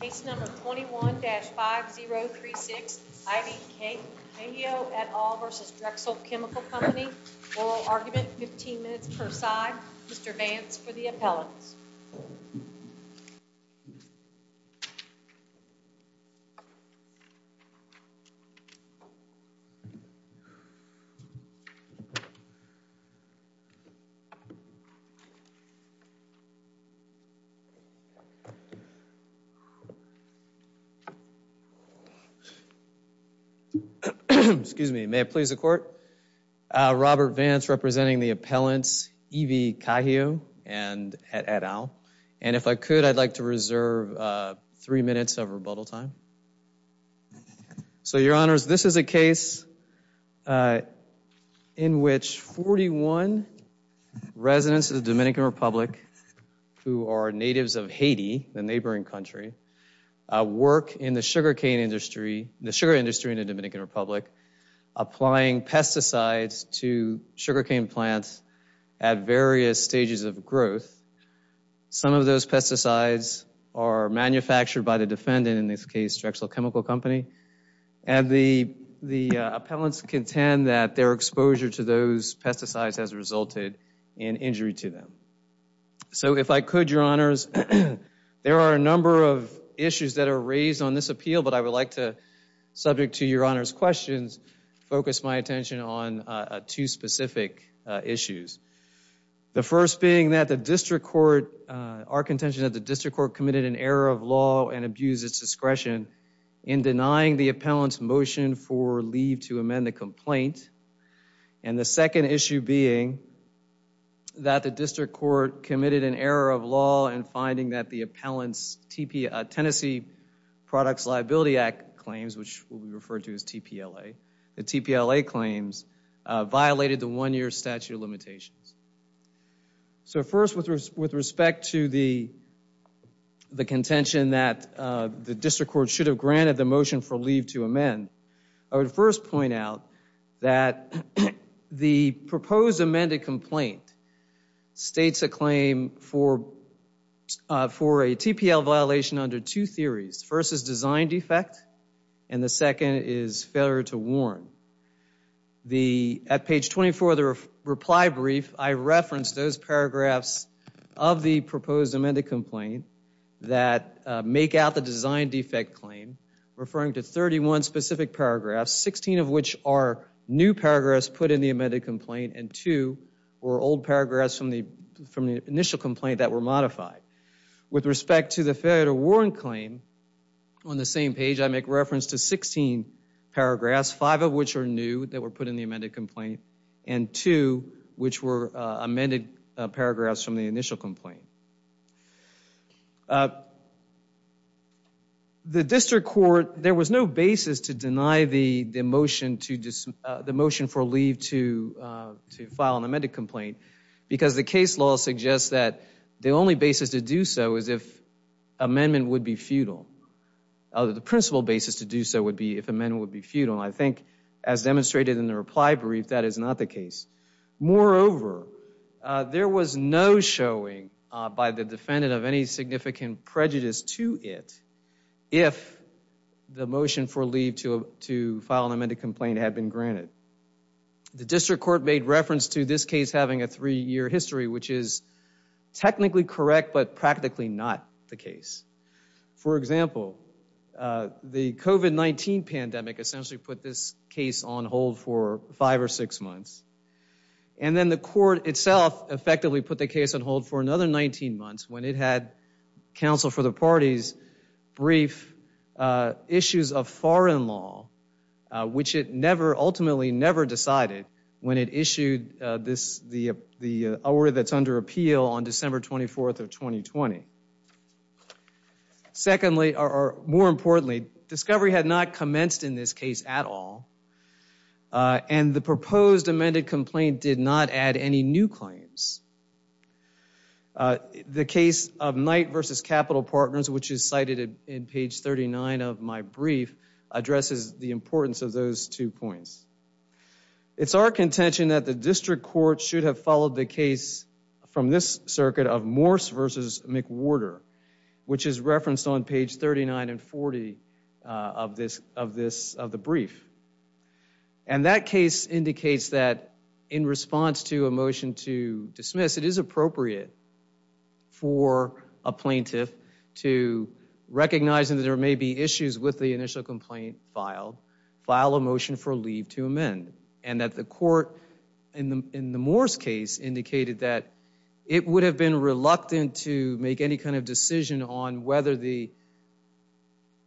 Case No. 21-5036, I.D. Kangio, et al. v. Drexel Chemical Company. Oral argument, 15 minutes per side. Mr. Vance for the appellants. Robert Vance representing the appellants, E.V. Kangio, et al. And if I could, I'd like to reserve three minutes of rebuttal time. So your honors, this is a case in which 41 residents of the Dominican Republic who are natives of Haiti, the neighboring country, work in the sugarcane industry, the sugar industry in the Dominican Republic, applying pesticides to sugarcane plants at various stages of growth. Some of those pesticides are manufactured by the defendant, in this case, Drexel Chemical Company. And the appellants contend that their exposure to those pesticides has resulted in injury to them. So if I could, your honors, there are a number of issues that are raised on this appeal, but I would like to, subject to your honors' questions, focus my attention on two specific issues. The first being that the district court, our contention that the district court committed an error of law and abused its discretion in denying the appellant's motion for leave to amend the complaint. And the second issue being that the district court committed an Products Liability Act claims, which we refer to as TPLA. The TPLA claims violated the one-year statute of limitations. So first, with respect to the contention that the district court should have granted the motion for leave to amend, I would first point out that the proposed First is design defect, and the second is failure to warn. At page 24 of the reply brief, I referenced those paragraphs of the proposed amended complaint that make out the design defect claim, referring to 31 specific paragraphs, 16 of which are new paragraphs put in the amended complaint, and two were old paragraphs from the initial complaint that were modified. With respect to the failure to warn claim, on the same page I make reference to 16 paragraphs, five of which are new that were put in the amended complaint, and two which were amended paragraphs from the initial complaint. The district court, there was no basis to deny the motion for leave to file an amended complaint because the case law suggests that the only basis to do so is if amendment would be futile. The principal basis to do so would be if amendment would be futile. I think as demonstrated in the reply brief, that is not the case. Moreover, there was no showing by the defendant of any significant prejudice to it if the motion for leave to file an amended complaint had been granted. The district court made reference to this case having a three-year history, which is technically correct, but practically not the case. For example, the COVID-19 pandemic essentially put this case on hold for five or six months, and then the court itself effectively put the case on hold for another 19 months when it had counsel for the parties brief issues of foreign law, which it never, ultimately never decided when it issued the order that's under appeal on December 24th of 2020. Secondly, more importantly, discovery had not commenced in this case at all, and the proposed amended complaint did not add any new claims. The case of Knight v. Capital Partners, which It's our contention that the district court should have followed the case from this circuit of Morse v. McWhorter, which is referenced on page 39 and 40 of the brief. And that case indicates that in response to a motion to dismiss, it is appropriate for a plaintiff to recognize that there may be issues with the initial complaint filed, file a motion for leave to amend, and that the court in the Morse case indicated that it would have been reluctant to make any kind of decision on whether the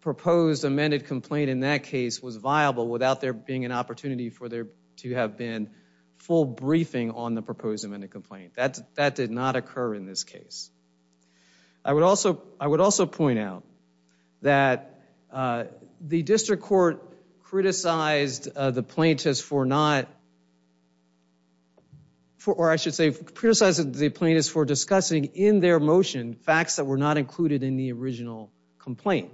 proposed amended complaint in that case was viable without there being an opportunity for there to have been full briefing on the proposed amended complaint. That did not occur in this case. I would also point out that the district court criticized the plaintiffs for not, or I should say, criticized the plaintiffs for discussing in their motion facts that were not included in the original complaint.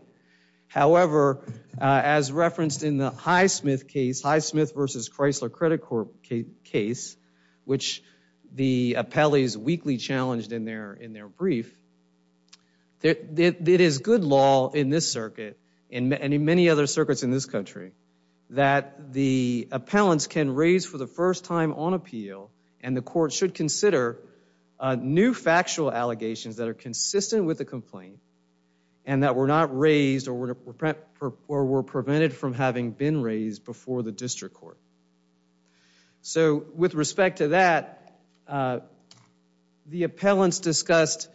However, as referenced in the Highsmith case, Highsmith v. Chrysler case, which the appellees weakly challenged in their brief, it is good law in this circuit and in many other circuits in this country that the appellants can raise for the first time on appeal and the court should consider new factual allegations that are consistent with the complaint and that were not raised or were prevented from having been raised before the district court. So with respect to that, the appellants discussed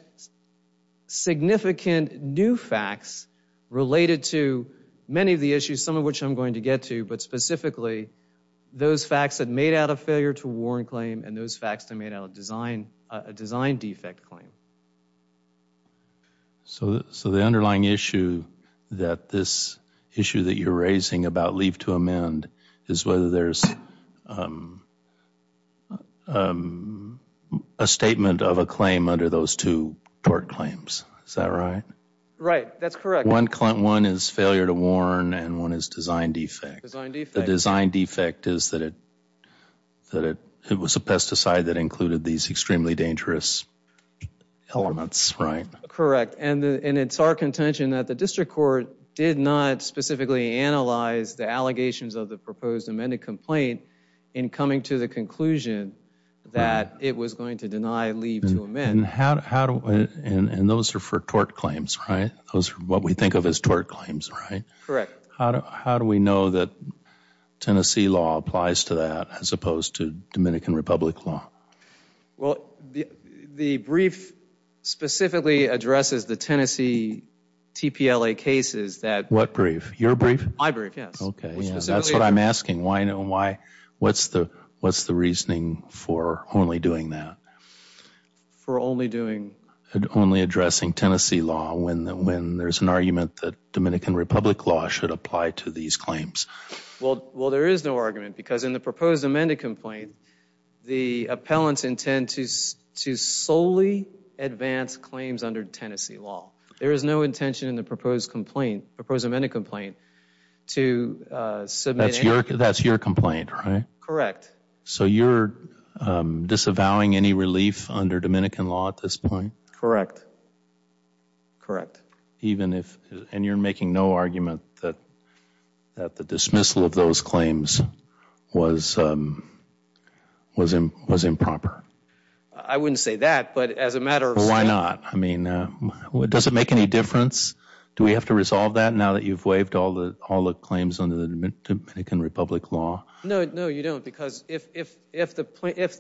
significant new facts related to many of the issues, some of which I'm going to get to, but specifically those facts that made out a failure to warrant claim and those facts that made out a design defect claim. So the underlying issue that this issue that you're raising about leave to amend is whether there's a statement of a claim under those two tort claims. Is that right? Right, that's correct. One is failure to warrant and one is design defect. Design defect. Design defect is that it was a pesticide that included these extremely dangerous elements, right? Correct, and it's our contention that the district court did not specifically analyze the allegations of the proposed amended complaint in coming to the conclusion that it was going to deny leave to amend. And those are for tort claims, right? Those are what we think of as tort claims, right? Correct. How do we know that Tennessee law applies to that as opposed to Dominican Republic law? Well, the brief specifically addresses the Tennessee TPLA cases that... What brief? Your brief? My brief, yes. Okay, that's what I'm asking. What's the reasoning for only doing that? For only doing... Only addressing Tennessee law when there's an argument that Dominican Republic law should apply to these claims? Well, there is no argument because in the proposed amended complaint, the appellants intend to solely advance claims under Tennessee law. There is no intention in the proposed amendment complaint to submit... That's your complaint, right? Correct. So you're disavowing any relief under Dominican law at this point? Correct. Correct. Even if... And you're making no argument that the dismissal of those claims was improper? I wouldn't say that, but as a matter of... Why not? I mean, does it make any difference? Do we have to resolve that now that you've waived all the claims under the Dominican Republic law? No, no, you don't. Because if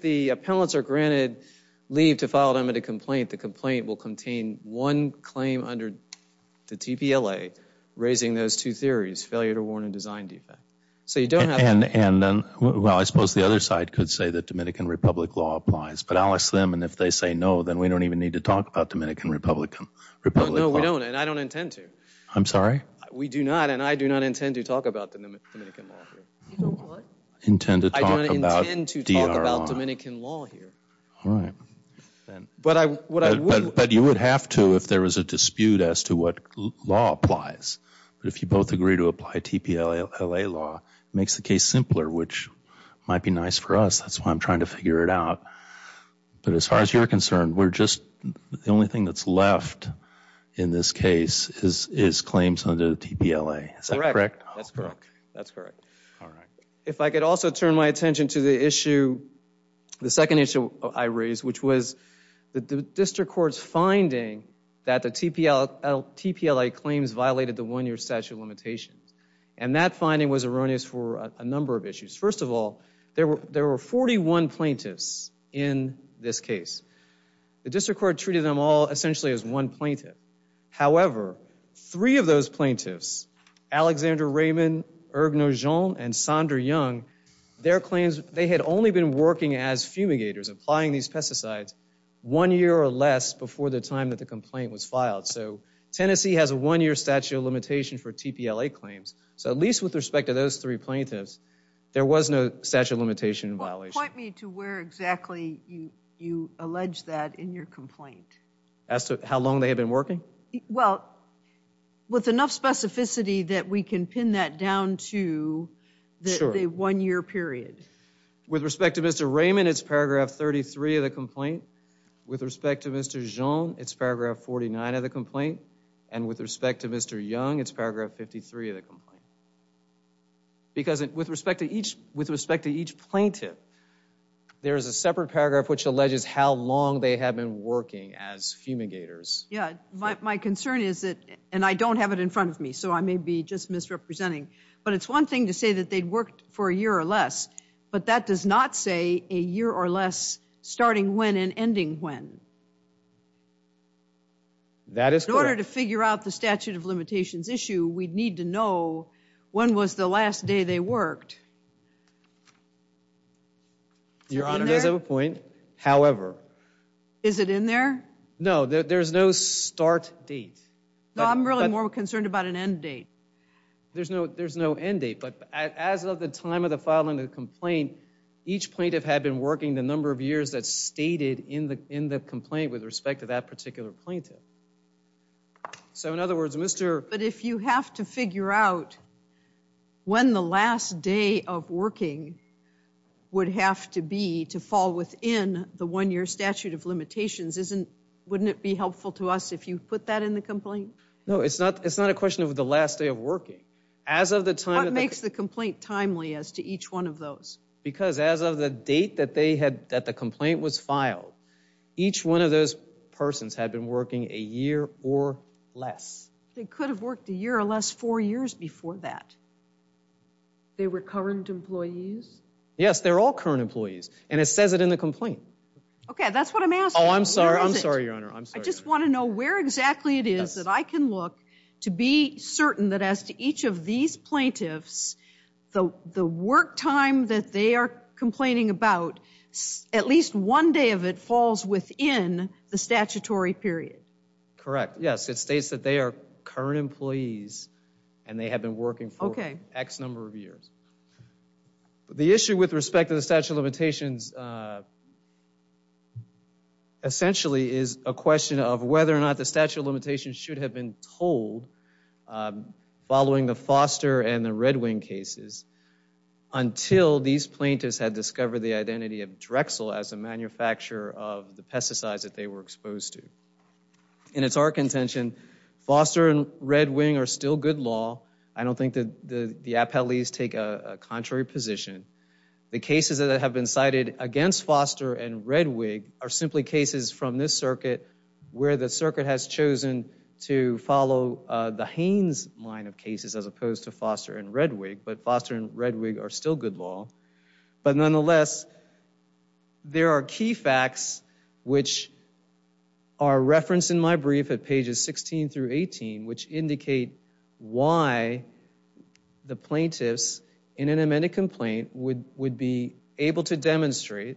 the appellants are granted leave to file an amended complaint, the complaint will contain one claim under the TPLA, raising those two theories, failure to warn and design defect. So you don't have to... And then, well, I suppose the other side could say that Dominican Republic law applies. But I'll ask them, and if they say no, then we don't even need to talk about Dominican Republic law. No, we don't, and I don't intend to. I'm sorry? We do not, and I do not intend to talk about Dominican law here. You don't what? Intend to talk about DRR. I don't intend to talk about Dominican law here. All right. But what I would... But you would have to if there was a dispute as to what law applies. But if you both agree to apply TPLA law, it makes the case simpler, which might be nice for us. That's why I'm trying to figure it out. But as far as you're concerned, we're just... The only thing that's left in this case is claims under the TPLA. Is that correct? That's correct. That's correct. All right. If I could also turn my attention to the issue, the second issue I raised, which was the district court's finding that the TPLA claims violated the one-year statute of limitations, and that finding was erroneous for a number of issues. First of all, there were 41 plaintiffs in this case. The district court treated them all essentially as one plaintiff. However, three of those plaintiffs, Alexander Raymond, Erg Nogent, and Sondra Young, their claims, they had only been working as fumigators, applying these pesticides one year or less before the time that the complaint was filed. So Tennessee has a one-year statute of limitation for TPLA claims. So at least with respect to those three plaintiffs, there was no statute of limitation violation. Point me to where exactly you allege that in your complaint. As to how long they have been working? Well, with enough specificity that we can pin that down to the one-year period. With respect to Mr. Raymond, it's paragraph 33 of the complaint. With respect to Mr. Jean, it's paragraph 49 of the complaint. And with respect to Mr. Young, it's paragraph 53 of the complaint. Because with respect to each plaintiff, there is a separate paragraph which alleges how long they have been working as fumigators. Yeah, my concern is that, and I don't have it in front of me, so I may be just misrepresenting, but it's one thing to say that they worked for a year or less, but that does not say a year or less starting when and ending when. That is correct. In order to figure out the statute of limitations issue, we'd need to know when was the last day they worked. Your Honor, you guys have a point. However... Is it in there? No, there's no start date. No, I'm really more concerned about an end date. There's no end date, but as of the time of the filing of the complaint, each plaintiff had been working the number of years that's stated in the complaint with respect to that particular plaintiff. So, in other words, Mr. If you have to figure out when the last day of working would have to be to fall within the one-year statute of limitations, wouldn't it be helpful to us if you put that in the complaint? No, it's not a question of the last day of working. As of the time... What makes the complaint timely as to each one of those? Because as of the date that the complaint was filed, each one of those persons had been working a year or less. They could have worked a year or less four years before that. They were current employees? Yes, they're all current employees. And it says it in the complaint. Okay, that's what I'm asking. Oh, I'm sorry. I'm sorry, Your Honor. I'm sorry. I just want to know where exactly it is that I can look to be certain that as to each of these plaintiffs, the work time that they are complaining about, at least one day of it falls within the statutory period. Correct. It states that they are current employees and they have been working for X number of years. The issue with respect to the statute of limitations, essentially, is a question of whether or not the statute of limitations should have been told following the Foster and the Red Wing cases until these plaintiffs had discovered the identity of Drexel as a manufacturer of the pesticides that they were exposed to. And it's our contention, Foster and Red Wing are still good law. I don't think that the appellees take a contrary position. The cases that have been cited against Foster and Red Wing are simply cases from this circuit where the circuit has chosen to follow the Haines line of cases as opposed to Foster and Red Wing. But Foster and Red Wing are still good law. But nonetheless, there are key facts which are referenced in my brief at pages 16 through 18, which indicate why the plaintiffs in an amended complaint would be able to demonstrate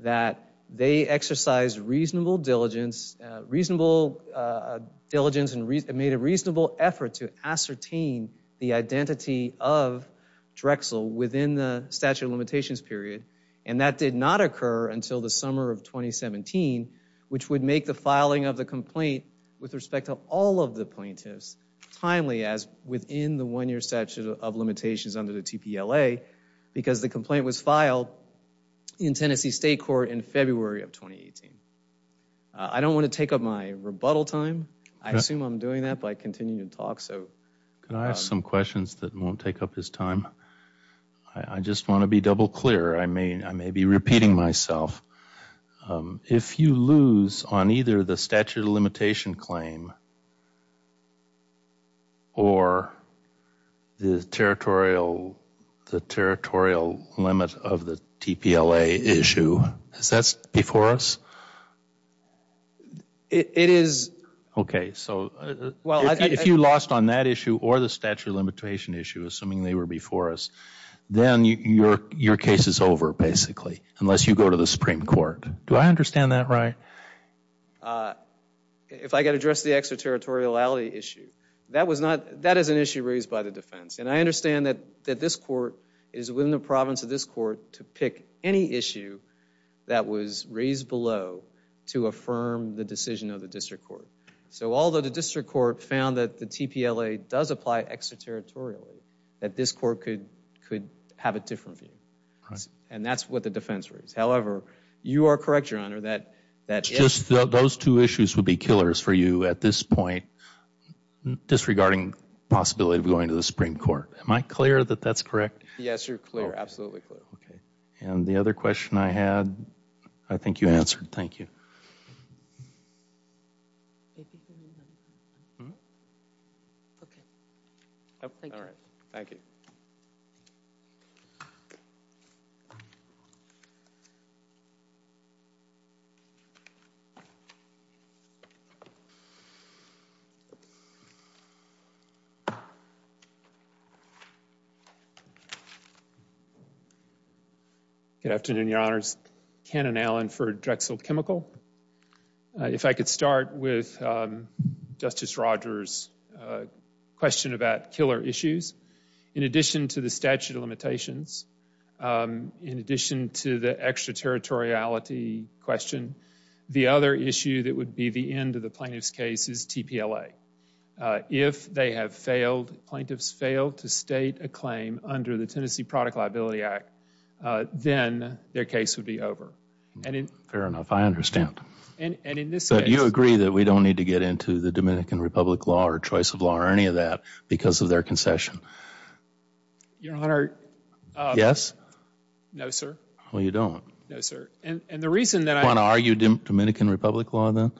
that they exercised reasonable diligence and made a reasonable effort to ascertain the statute of limitations period. And that did not occur until the summer of 2017, which would make the filing of the complaint, with respect to all of the plaintiffs, timely as within the one-year statute of limitations under the TPLA, because the complaint was filed in Tennessee State Court in February of 2018. I don't want to take up my rebuttal time. I assume I'm doing that by continuing to talk. So. Can I ask some questions that won't take up his time? I just want to be double clear. I may be repeating myself. If you lose on either the statute of limitation claim or the territorial limit of the TPLA issue, is that before us? It is. Okay. So if you lost on that issue or the statute of limitation issue, assuming they were before us, then your case is over, basically, unless you go to the Supreme Court. Do I understand that right? If I get addressed the extraterritoriality issue, that is an issue raised by the defense. And I understand that this court is within the province of this court to pick any issue that was raised below to affirm the decision of the district court. So although the district court found that the TPLA does apply extraterritorially, that this court could have a different view. And that's what the defense raised. However, you are correct, Your Honor, that yes. It's just those two issues would be killers for you at this point, disregarding the possibility of going to the Supreme Court. Am I clear that that's correct? Yes, you're clear. Absolutely clear. Okay. And the other question I had, I think you answered. Thank you. Okay. All right. Thank you. Okay. Good afternoon, Your Honors. Ken and Alan for Drexel Chemical. If I could start with Justice Rogers' question about killer issues. In addition to the statute of limitations, in addition to the extraterritoriality question, the other issue that would be the end of the plaintiff's case is TPLA. If they have failed, plaintiffs failed to state a claim under the Tennessee Product Liability Act, then their case would be over. Fair enough. I understand. And in this case— You agree that we don't need to get into the Dominican Republic law or choice of law or any of that because of their concession? Your Honor— Yes? No, sir. Well, you don't. No, sir. And the reason that I— You want to argue Dominican Republic law, then?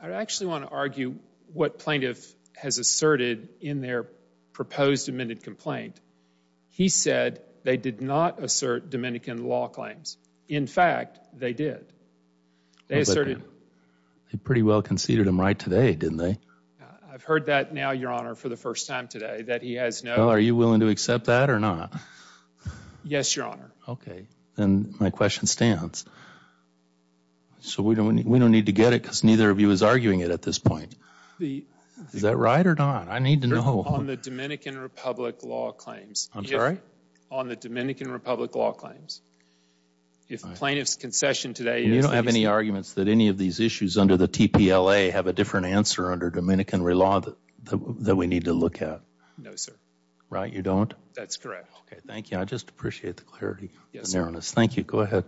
I actually want to argue what plaintiff has asserted in their proposed amended complaint. He said they did not assert Dominican law claims. In fact, they did. They asserted— They pretty well conceded them right today, didn't they? I've heard that now, Your Honor, for the first time today, that he has no— Are you willing to accept that or not? Yes, Your Honor. Okay. Then my question stands. So we don't need to get it because neither of you is arguing it at this point. Is that right or not? I need to know. On the Dominican Republic law claims. I'm sorry? On the Dominican Republic law claims. If plaintiff's concession today is— You don't have any arguments that any of these issues under the TPLA have a different answer under Dominican law that we need to look at? No, sir. Right? You don't? That's correct. Okay. Thank you. I just appreciate the clarity on this. Thank you. Go ahead.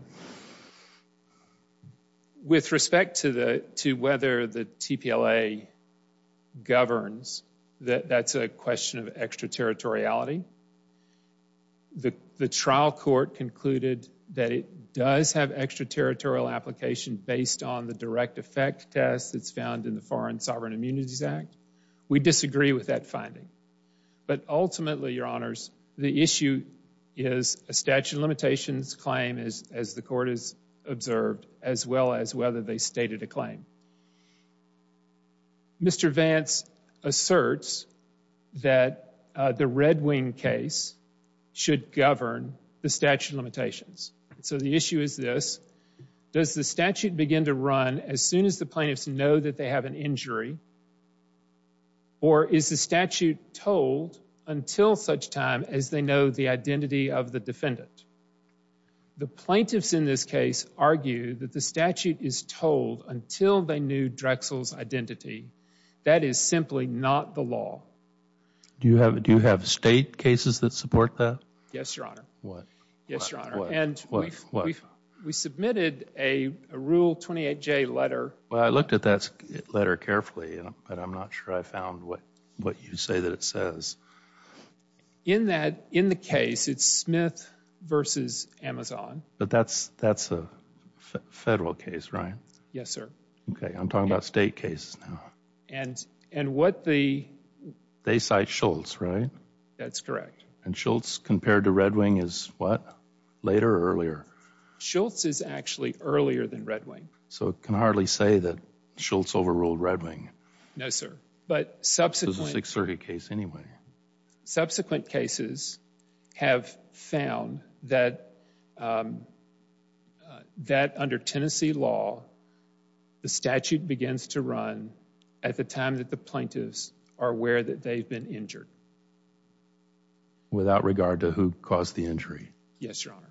With respect to whether the TPLA governs, that's a question of extraterritoriality. The trial court concluded that it does have extraterritorial application based on the direct effect test that's found in the Foreign Sovereign Immunities Act. We disagree with that finding. But ultimately, your honors, the issue is a statute of limitations claim, as the court has observed, as well as whether they stated a claim. Mr. Vance asserts that the Red Wing case should govern the statute of limitations. So the issue is this. Does the statute begin to run as soon as the plaintiffs know that they have an injury? Or is the statute told until such time as they know the identity of the defendant? The plaintiffs in this case argue that the statute is told until they knew Drexel's identity. That is simply not the law. Do you have state cases that support that? Yes, your honor. What? Yes, your honor. What? What? What? What? We submitted a Rule 28J letter. Well, I looked at that letter carefully. But I'm not sure I found what you say that it says. In the case, it's Smith versus Amazon. But that's a federal case, right? Yes, sir. OK. I'm talking about state cases now. And what the... They cite Schultz, right? That's correct. And Schultz compared to Red Wing is what? Later or earlier? Schultz is actually earlier than Red Wing. So it can hardly say that Schultz overruled Red Wing. No, sir. It's a Sixth Circuit case anyway. Subsequent cases have found that, that under Tennessee law, the statute begins to run at the time that the plaintiffs are aware that they've been injured. Without regard to who caused the injury? Yes, your honor.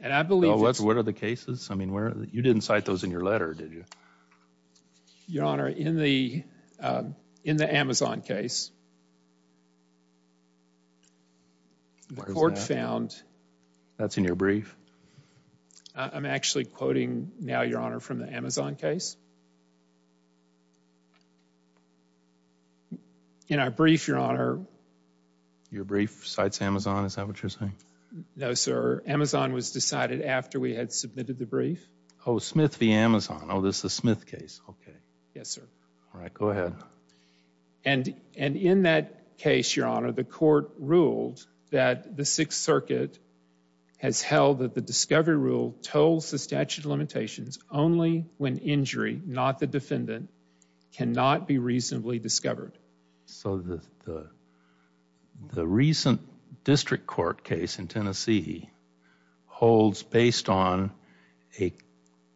And I believe... What are the cases? I mean, you didn't cite those in your letter, did you? No, your honor. In the Amazon case, the court found... That's in your brief. I'm actually quoting now, your honor, from the Amazon case. In our brief, your honor... Your brief cites Amazon. Is that what you're saying? No, sir. Amazon was decided after we had submitted the brief. Oh, Smith v. Amazon. Oh, this is the Smith case. Okay. Yes, sir. All right, go ahead. And in that case, your honor, the court ruled that the Sixth Circuit has held that the discovery rule tolls the statute of limitations only when injury, not the defendant, cannot be reasonably discovered. So the recent district court case in Tennessee holds based on a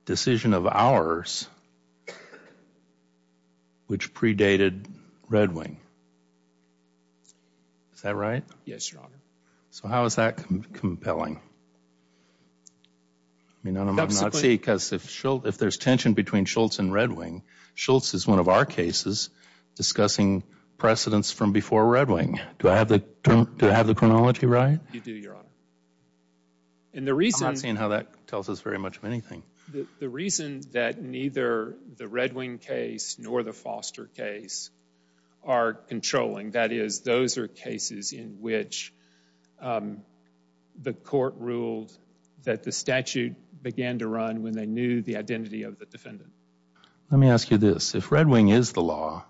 decision of ours which predated Red Wing. Is that right? Yes, your honor. So how is that compelling? I mean, I'm not saying because if there's tension between Schultz and Red Wing, Schultz is one of our cases discussing precedents from before Red Wing. Do I have the chronology right? You do, your honor. And the reason— I'm not seeing how that tells us very much of anything. The reason that neither the Red Wing case nor the Foster case are controlling, that is, those are cases in which the court ruled that the statute began to run when they knew the identity of the defendant. Let me ask you this. If Red Wing is the law,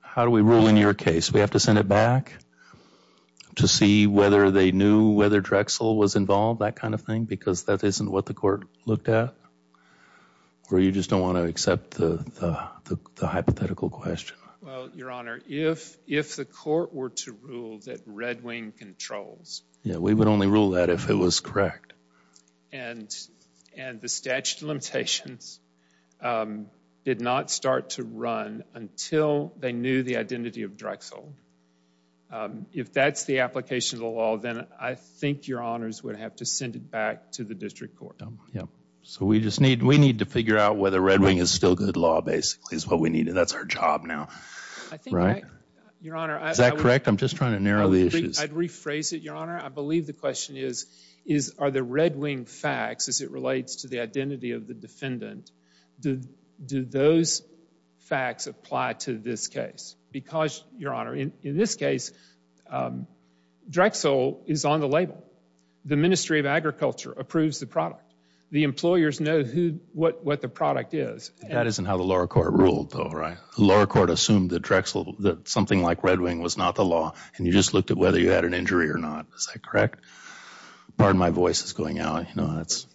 how do we rule in your case? We have to send it back to see whether they knew whether Drexel was involved, that kind of thing, because that isn't what the court looked at? Or you just don't want to accept the hypothetical question? Well, your honor, if the court were to rule that Red Wing controls— Yeah, we would only rule that if it was correct. And the statute of limitations did not start to run until they knew the identity of Drexel. If that's the application of the law, then I think your honors would have to send it back to the district court. Yeah, so we just need to figure out whether Red Wing is still good law, basically, is what we need. That's our job now, right? Your honor— Is that correct? I'm just trying to narrow the issues. I'd rephrase it, your honor. I believe the question is, are the Red Wing facts, as it relates to the identity of the defendant, do those facts apply to this case? Because, your honor, in this case, Drexel is on the label. The Ministry of Agriculture approves the product. The employers know what the product is. That isn't how the lower court ruled, though, right? The lower court assumed that Drexel, that something like Red Wing was not the law, and you just looked at whether you had an injury or not. Is that correct? Pardon my voice is going out. No, that's—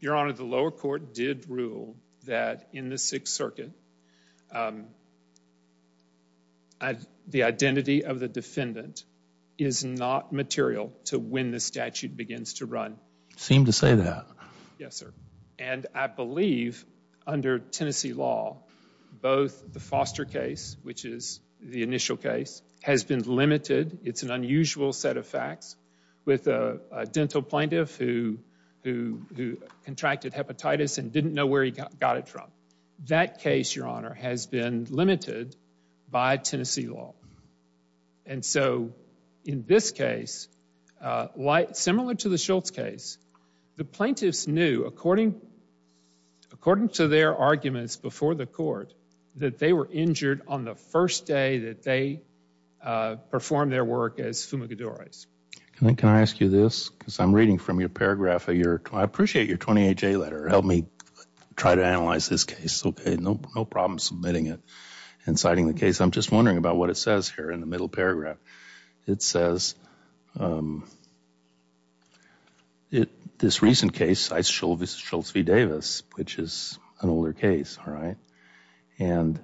Your honor, the lower court did rule that, in the Sixth Circuit, the identity of the defendant is not material to when the statute begins to run. Seem to say that. Yes, sir. And I believe, under Tennessee law, both the Foster case, which is the initial case, has been limited. It's an unusual set of facts, with a dental plaintiff who contracted hepatitis and didn't know where he got it from. That case, your honor, has been limited by Tennessee law. And so, in this case, similar to the Schultz case, the plaintiffs knew, according to their arguments before the court, that they were injured on the first day that they performed their work as fumigadores. Can I ask you this? Because I'm reading from your paragraph of your— I appreciate your 28-J letter. Help me try to analyze this case. Okay, no problem submitting it and citing the case. I'm just wondering about what it says here in the middle paragraph. It says, this recent case, Shultz v. Davis, which is an older case, all right? And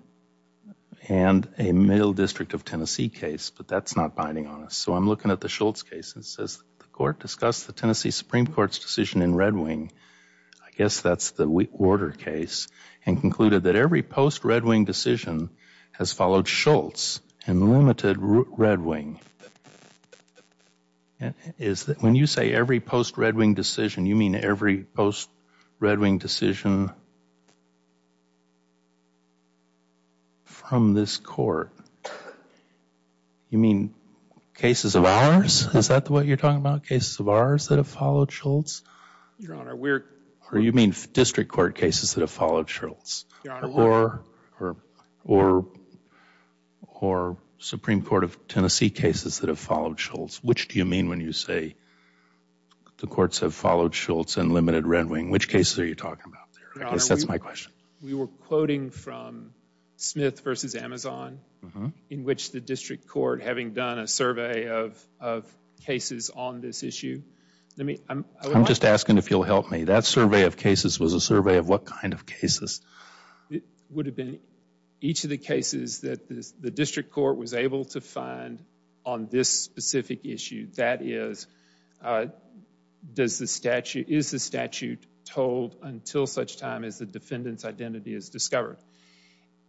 a Middle District of Tennessee case, but that's not binding on us. So I'm looking at the Schultz case. It says, I guess that's the Warder case, and concluded that every post-Red Wing decision has followed Schultz and limited Red Wing. When you say every post-Red Wing decision, you mean every post-Red Wing decision from this court? You mean cases of ours? Is that what you're talking about? Cases of ours that have followed Schultz? Your Honor, we're— Or you mean District Court cases that have followed Schultz? Your Honor— Or Supreme Court of Tennessee cases that have followed Schultz? Which do you mean when you say the courts have followed Schultz and limited Red Wing? Which cases are you talking about there? I guess that's my question. We were quoting from Smith v. Amazon, in which the District Court, having done a survey of cases on this issue— I'm just asking if you'll help me. That survey of cases was a survey of what kind of cases? It would have been each of the cases that the District Court was able to find on this specific issue. That is, is the statute told until such time as the defendant's identity is discovered?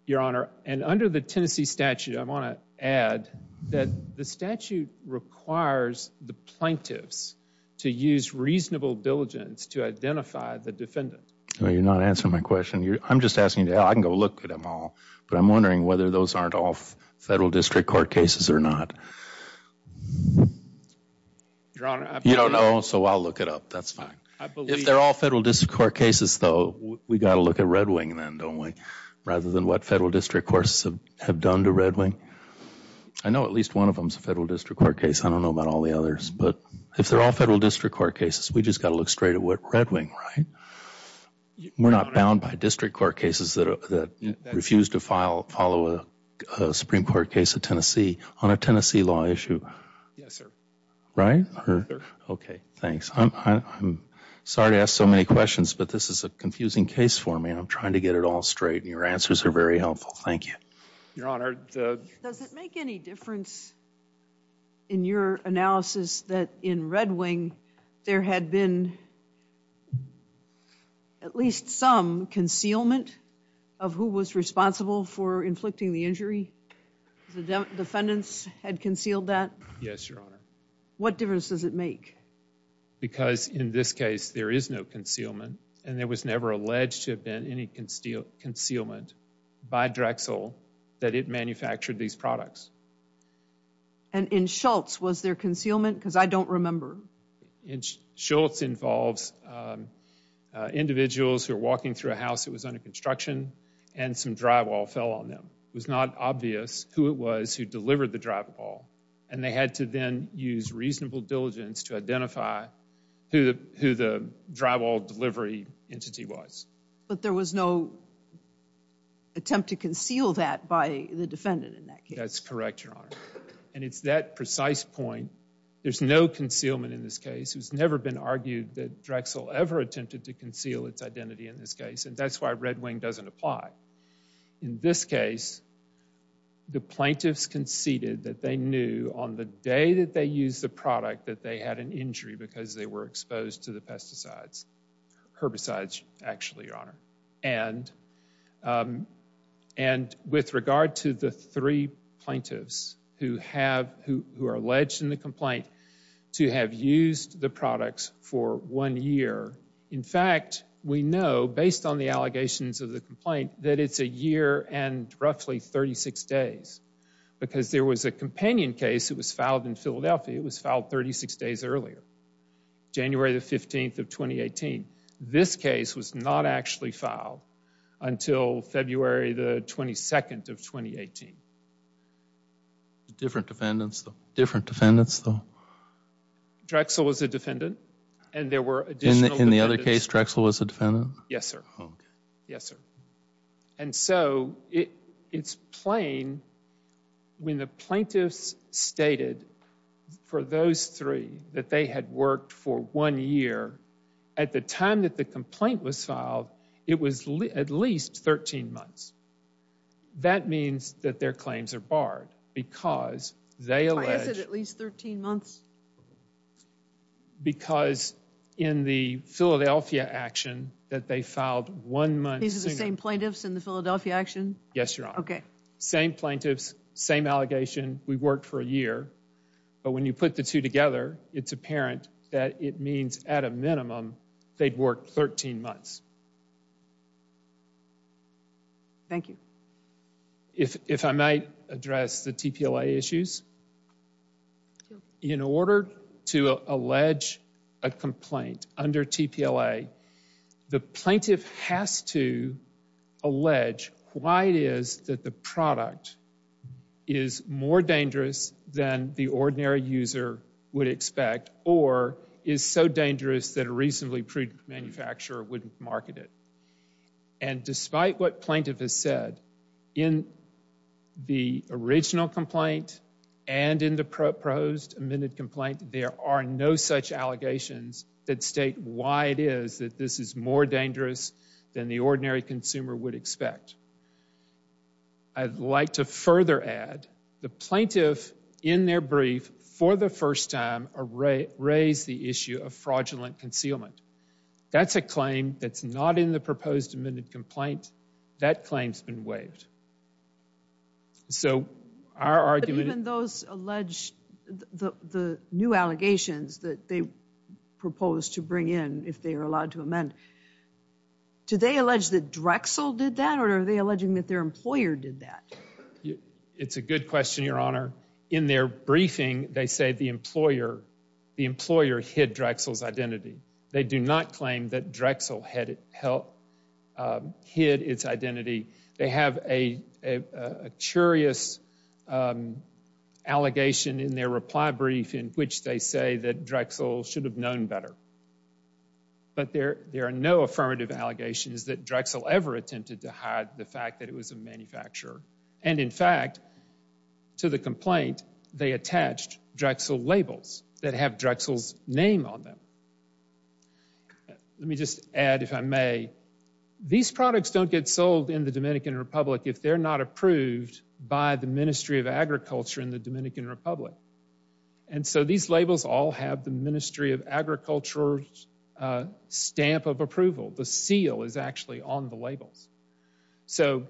Your Honor, and under the Tennessee statute, I want to add that the statute requires the plaintiffs to use reasonable diligence to identify the defendant. You're not answering my question. I'm just asking— I can go look at them all, but I'm wondering whether those aren't all Federal District Court cases or not. Your Honor— You don't know, so I'll look it up. That's fine. If they're all Federal District Court cases, though, we've got to look at Red Wing then, don't we? Rather than what Federal District Courts have done to Red Wing. I know at least one of them is a Federal District Court case. I don't know about all the others, but if they're all Federal District Court cases, we've just got to look straight at Red Wing, right? We're not bound by District Court cases that refuse to follow a Supreme Court case of Tennessee on a Tennessee law issue. Yes, sir. Right? Okay, thanks. I'm sorry to ask so many questions, but this is a confusing case for me. I'm trying to get it all straight, and your answers are very helpful. Thank you. Your Honor, the— Does it make any difference in your analysis that in Red Wing there had been at least some concealment The defendants had concealed that? Yes, Your Honor. What difference does it make? Because in this case, there is no concealment, and there was never alleged to have been any concealment by Drexel that it manufactured these products. And in Schultz, was there concealment? Because I don't remember. In Schultz involves individuals who are walking through a house that was under construction, and some drywall fell on them. It was not obvious who it was who delivered the drywall, and they had to then use reasonable diligence to identify who the drywall delivery entity was. But there was no attempt to conceal that by the defendant in that case? That's correct, Your Honor. And it's that precise point. There's no concealment in this case. It's never been argued that Drexel ever attempted to conceal its identity in this case, and that's why Red Wing doesn't apply. In this case, the plaintiffs conceded that they knew on the day that they used the product that they had an injury because they were exposed to the pesticides, herbicides, actually, Your Honor. And with regard to the three plaintiffs who are alleged in the complaint to have used the products for one year, in fact, we know based on the allegations of the complaint that it's a year and roughly 36 days because there was a companion case that was filed in Philadelphia. It was filed 36 days earlier, January the 15th of 2018. This case was not actually filed until February the 22nd of 2018. Different defendants, though? Different defendants, though? Drexel was a defendant, and there were additional defendants. In the other case, Drexel was a defendant? Yes, sir. Yes, sir. And so it's plain, when the plaintiffs stated for those three that they had worked for one year, at the time that the complaint was filed, it was at least 13 months. That means that their claims are barred because they allege— Why is it at least 13 months? Because in the Philadelphia action that they filed one month— These are the same plaintiffs in the Philadelphia action? Yes, Your Honor. Okay. Same plaintiffs, same allegation. We worked for a year, but when you put the two together, it's apparent that it means at a minimum they'd worked 13 months. Thank you. If I might address the TPLA issues. In order to allege a complaint under TPLA, the plaintiff has to allege why it is that the product is more dangerous than the ordinary user would expect or is so dangerous that a reasonably prudent manufacturer wouldn't market it. And despite what plaintiff has said, in the original complaint and in the proposed amended complaint, there are no such allegations that state why it is that this is more dangerous than the ordinary consumer would expect. I'd like to further add, the plaintiff, in their brief, for the first time, raised the issue of fraudulent concealment. That's a claim that's not in the proposed amended complaint. That claim's been waived. So our argument— the new allegations that they propose to bring in if they are allowed to amend, do they allege that Drexel did that, or are they alleging that their employer did that? It's a good question, Your Honor. In their briefing, they say the employer hid Drexel's identity. They do not claim that Drexel hid its identity. They have a curious allegation in their reply brief in which they say that Drexel should have known better. But there are no affirmative allegations that Drexel ever attempted to hide the fact that it was a manufacturer. And in fact, to the complaint, they attached Drexel labels that have Drexel's name on them. Let me just add, if I may, these products don't get sold in the Dominican Republic if they're not approved by the Ministry of Agriculture in the Dominican Republic. And so these labels all have the Ministry of Agriculture's stamp of approval. The seal is actually on the labels. So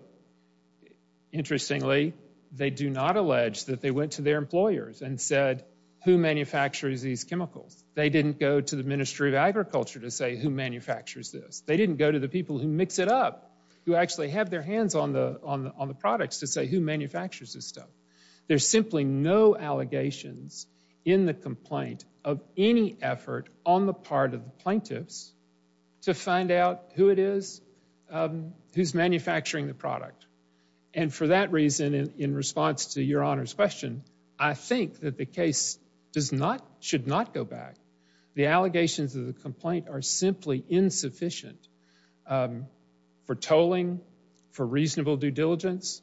interestingly, they do not allege that they went to their employers and said, who manufactures these chemicals? They didn't go to the Ministry of Agriculture to say who manufactures this. They didn't go to the people who mix it up, who actually have their hands on the products to say who manufactures this stuff. There's simply no allegations in the complaint of any effort on the part of the plaintiffs to find out who it is who's manufacturing the product. And for that reason, in response to Your Honor's question, I think that the case does not, should not go back. The allegations of the complaint are simply insufficient for tolling, for reasonable due diligence.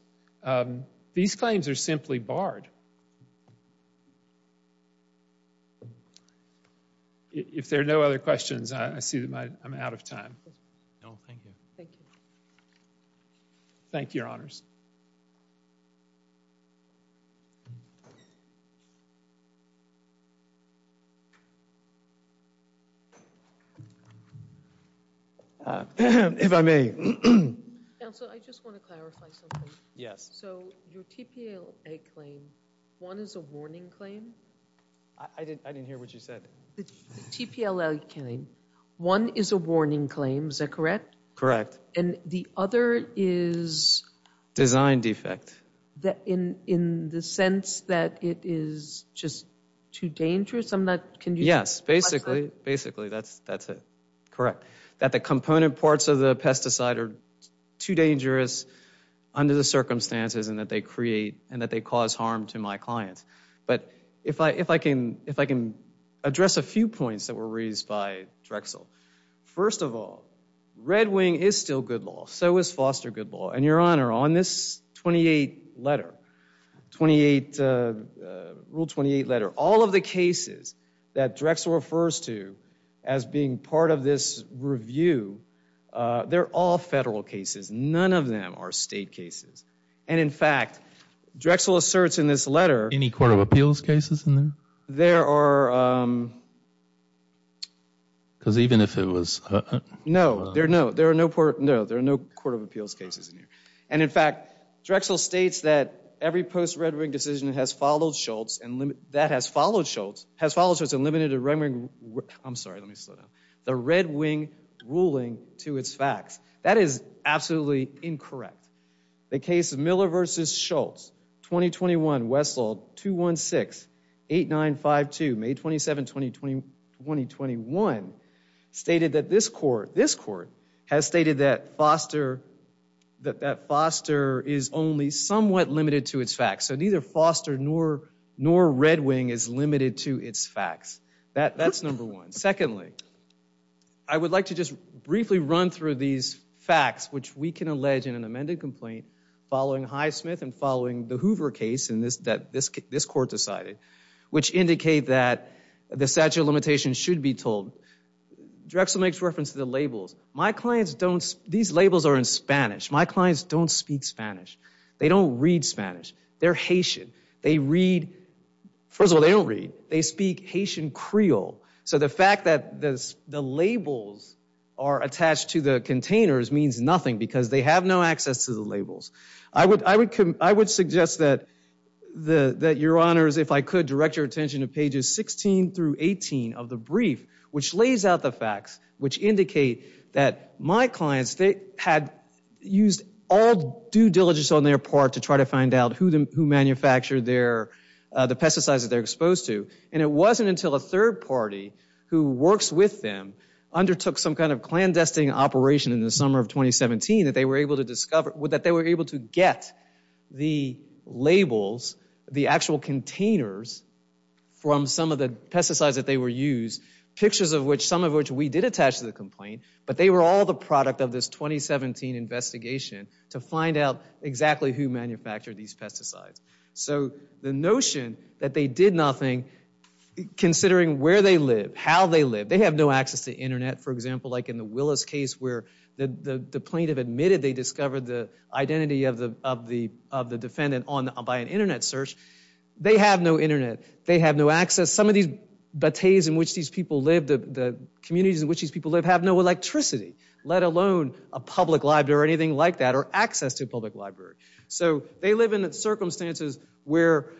These claims are simply barred. If there are no other questions, I see that I'm out of time. No, thank you. Thank you. Thank you, Your Honors. Thank you. If I may. Counsel, I just want to clarify something. Yes. So your TPLA claim, one is a warning claim. I didn't hear what you said. The TPLA claim, one is a warning claim. Is that correct? Correct. And the other is... Design defect. In the sense that it is just too dangerous. I'm not, can you... Yes, basically. Basically, that's it. Correct. That the component parts of the pesticide are too dangerous under the circumstances and that they create, and that they cause harm to my clients. But if I can address a few points that were raised by Drexel. First of all, Red Wing is still good law. So is Foster Good Law. And Your Honor, on this 28 letter, rule 28 letter, all of the cases that Drexel refers to as being part of this review, they're all federal cases. None of them are state cases. And in fact, Drexel asserts in this letter... Any court of appeals cases in there? There are... Because even if it was... No, there are no court of appeals cases in here. And in fact, Drexel states that every post-Red Wing decision has followed Schultz and limited Red Wing... I'm sorry, let me slow down. The Red Wing ruling to its facts. That is absolutely incorrect. The case of Miller v. Schultz, 2021, West Law, 216-8952, May 27, 2021, stated that this court has stated that Foster is only somewhat limited to its facts. So neither Foster nor Red Wing is limited to its facts. That's number one. Secondly, I would like to just briefly run through these facts, which we can allege in an amended complaint following Highsmith and following the Hoover case that this court decided, which indicate that the statute of limitations should be told. Drexel makes reference to the labels. My clients don't... These labels are in Spanish. My clients don't speak Spanish. They don't read Spanish. They're Haitian. They read... First of all, they don't read. They speak Haitian Creole. So the fact that the labels are attached to the containers means nothing because they have no access to the labels. I would suggest that your honors, if I could, direct your attention to pages 16 through 18 of the brief, which lays out the facts, which indicate that my clients, they had used all due diligence on their part to try to find out who manufactured the pesticides that they're exposed to. And it wasn't until a third party who works with them undertook some kind of clandestine operation in the summer of 2017 that they were able to discover... that they were able to get the labels, the actual containers from some of the pesticides that they were used, pictures of which, some of which we did attach to the complaint, but they were all the product of this 2017 investigation to find out exactly who manufactured these pesticides. So the notion that they did nothing, considering where they live, how they live, they have no access to internet, for example, like in the Willis case where the plaintiff admitted they discovered the identity of the defendant by an internet search. They have no internet. They have no access. Some of these batets in which these people live, the communities in which these people live, have no electricity, let alone a public library or anything like that, or access to a public library. So they live in circumstances where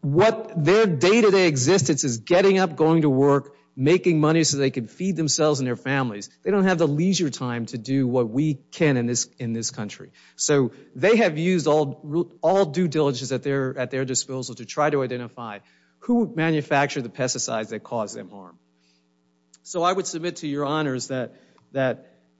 what their day-to-day existence is getting up, going to work, making money so they can feed themselves and their families. They don't have the leisure time to do what we can in this country. So they have used all due diligence at their disposal to try to identify who manufactured the pesticides that caused them harm. So I would submit to your honors that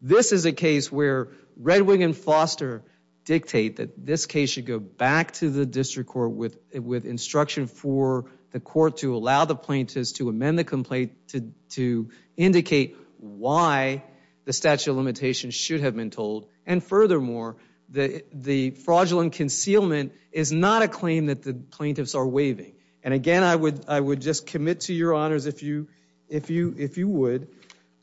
this is a case where Red Wing and Foster dictate that this case should go back to the district court with instruction for the court to allow the plaintiffs to amend the complaint to indicate why the statute of limitations should have been told. And furthermore, the fraudulent concealment is not a claim that the plaintiffs are waiving. And again, I would just commit to your honors if you would,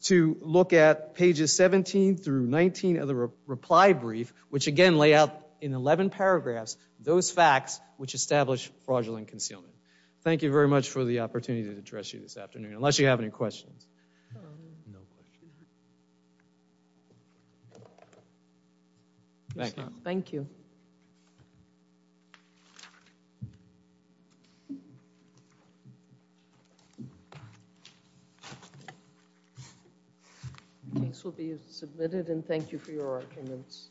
to look at pages 17 through 19 of the reply brief, which again lay out in 11 paragraphs those facts which establish fraudulent concealment. Thank you very much for the opportunity to address you this afternoon, unless you have any questions. No questions. Thank you. The case will be submitted and thank you for your arguments.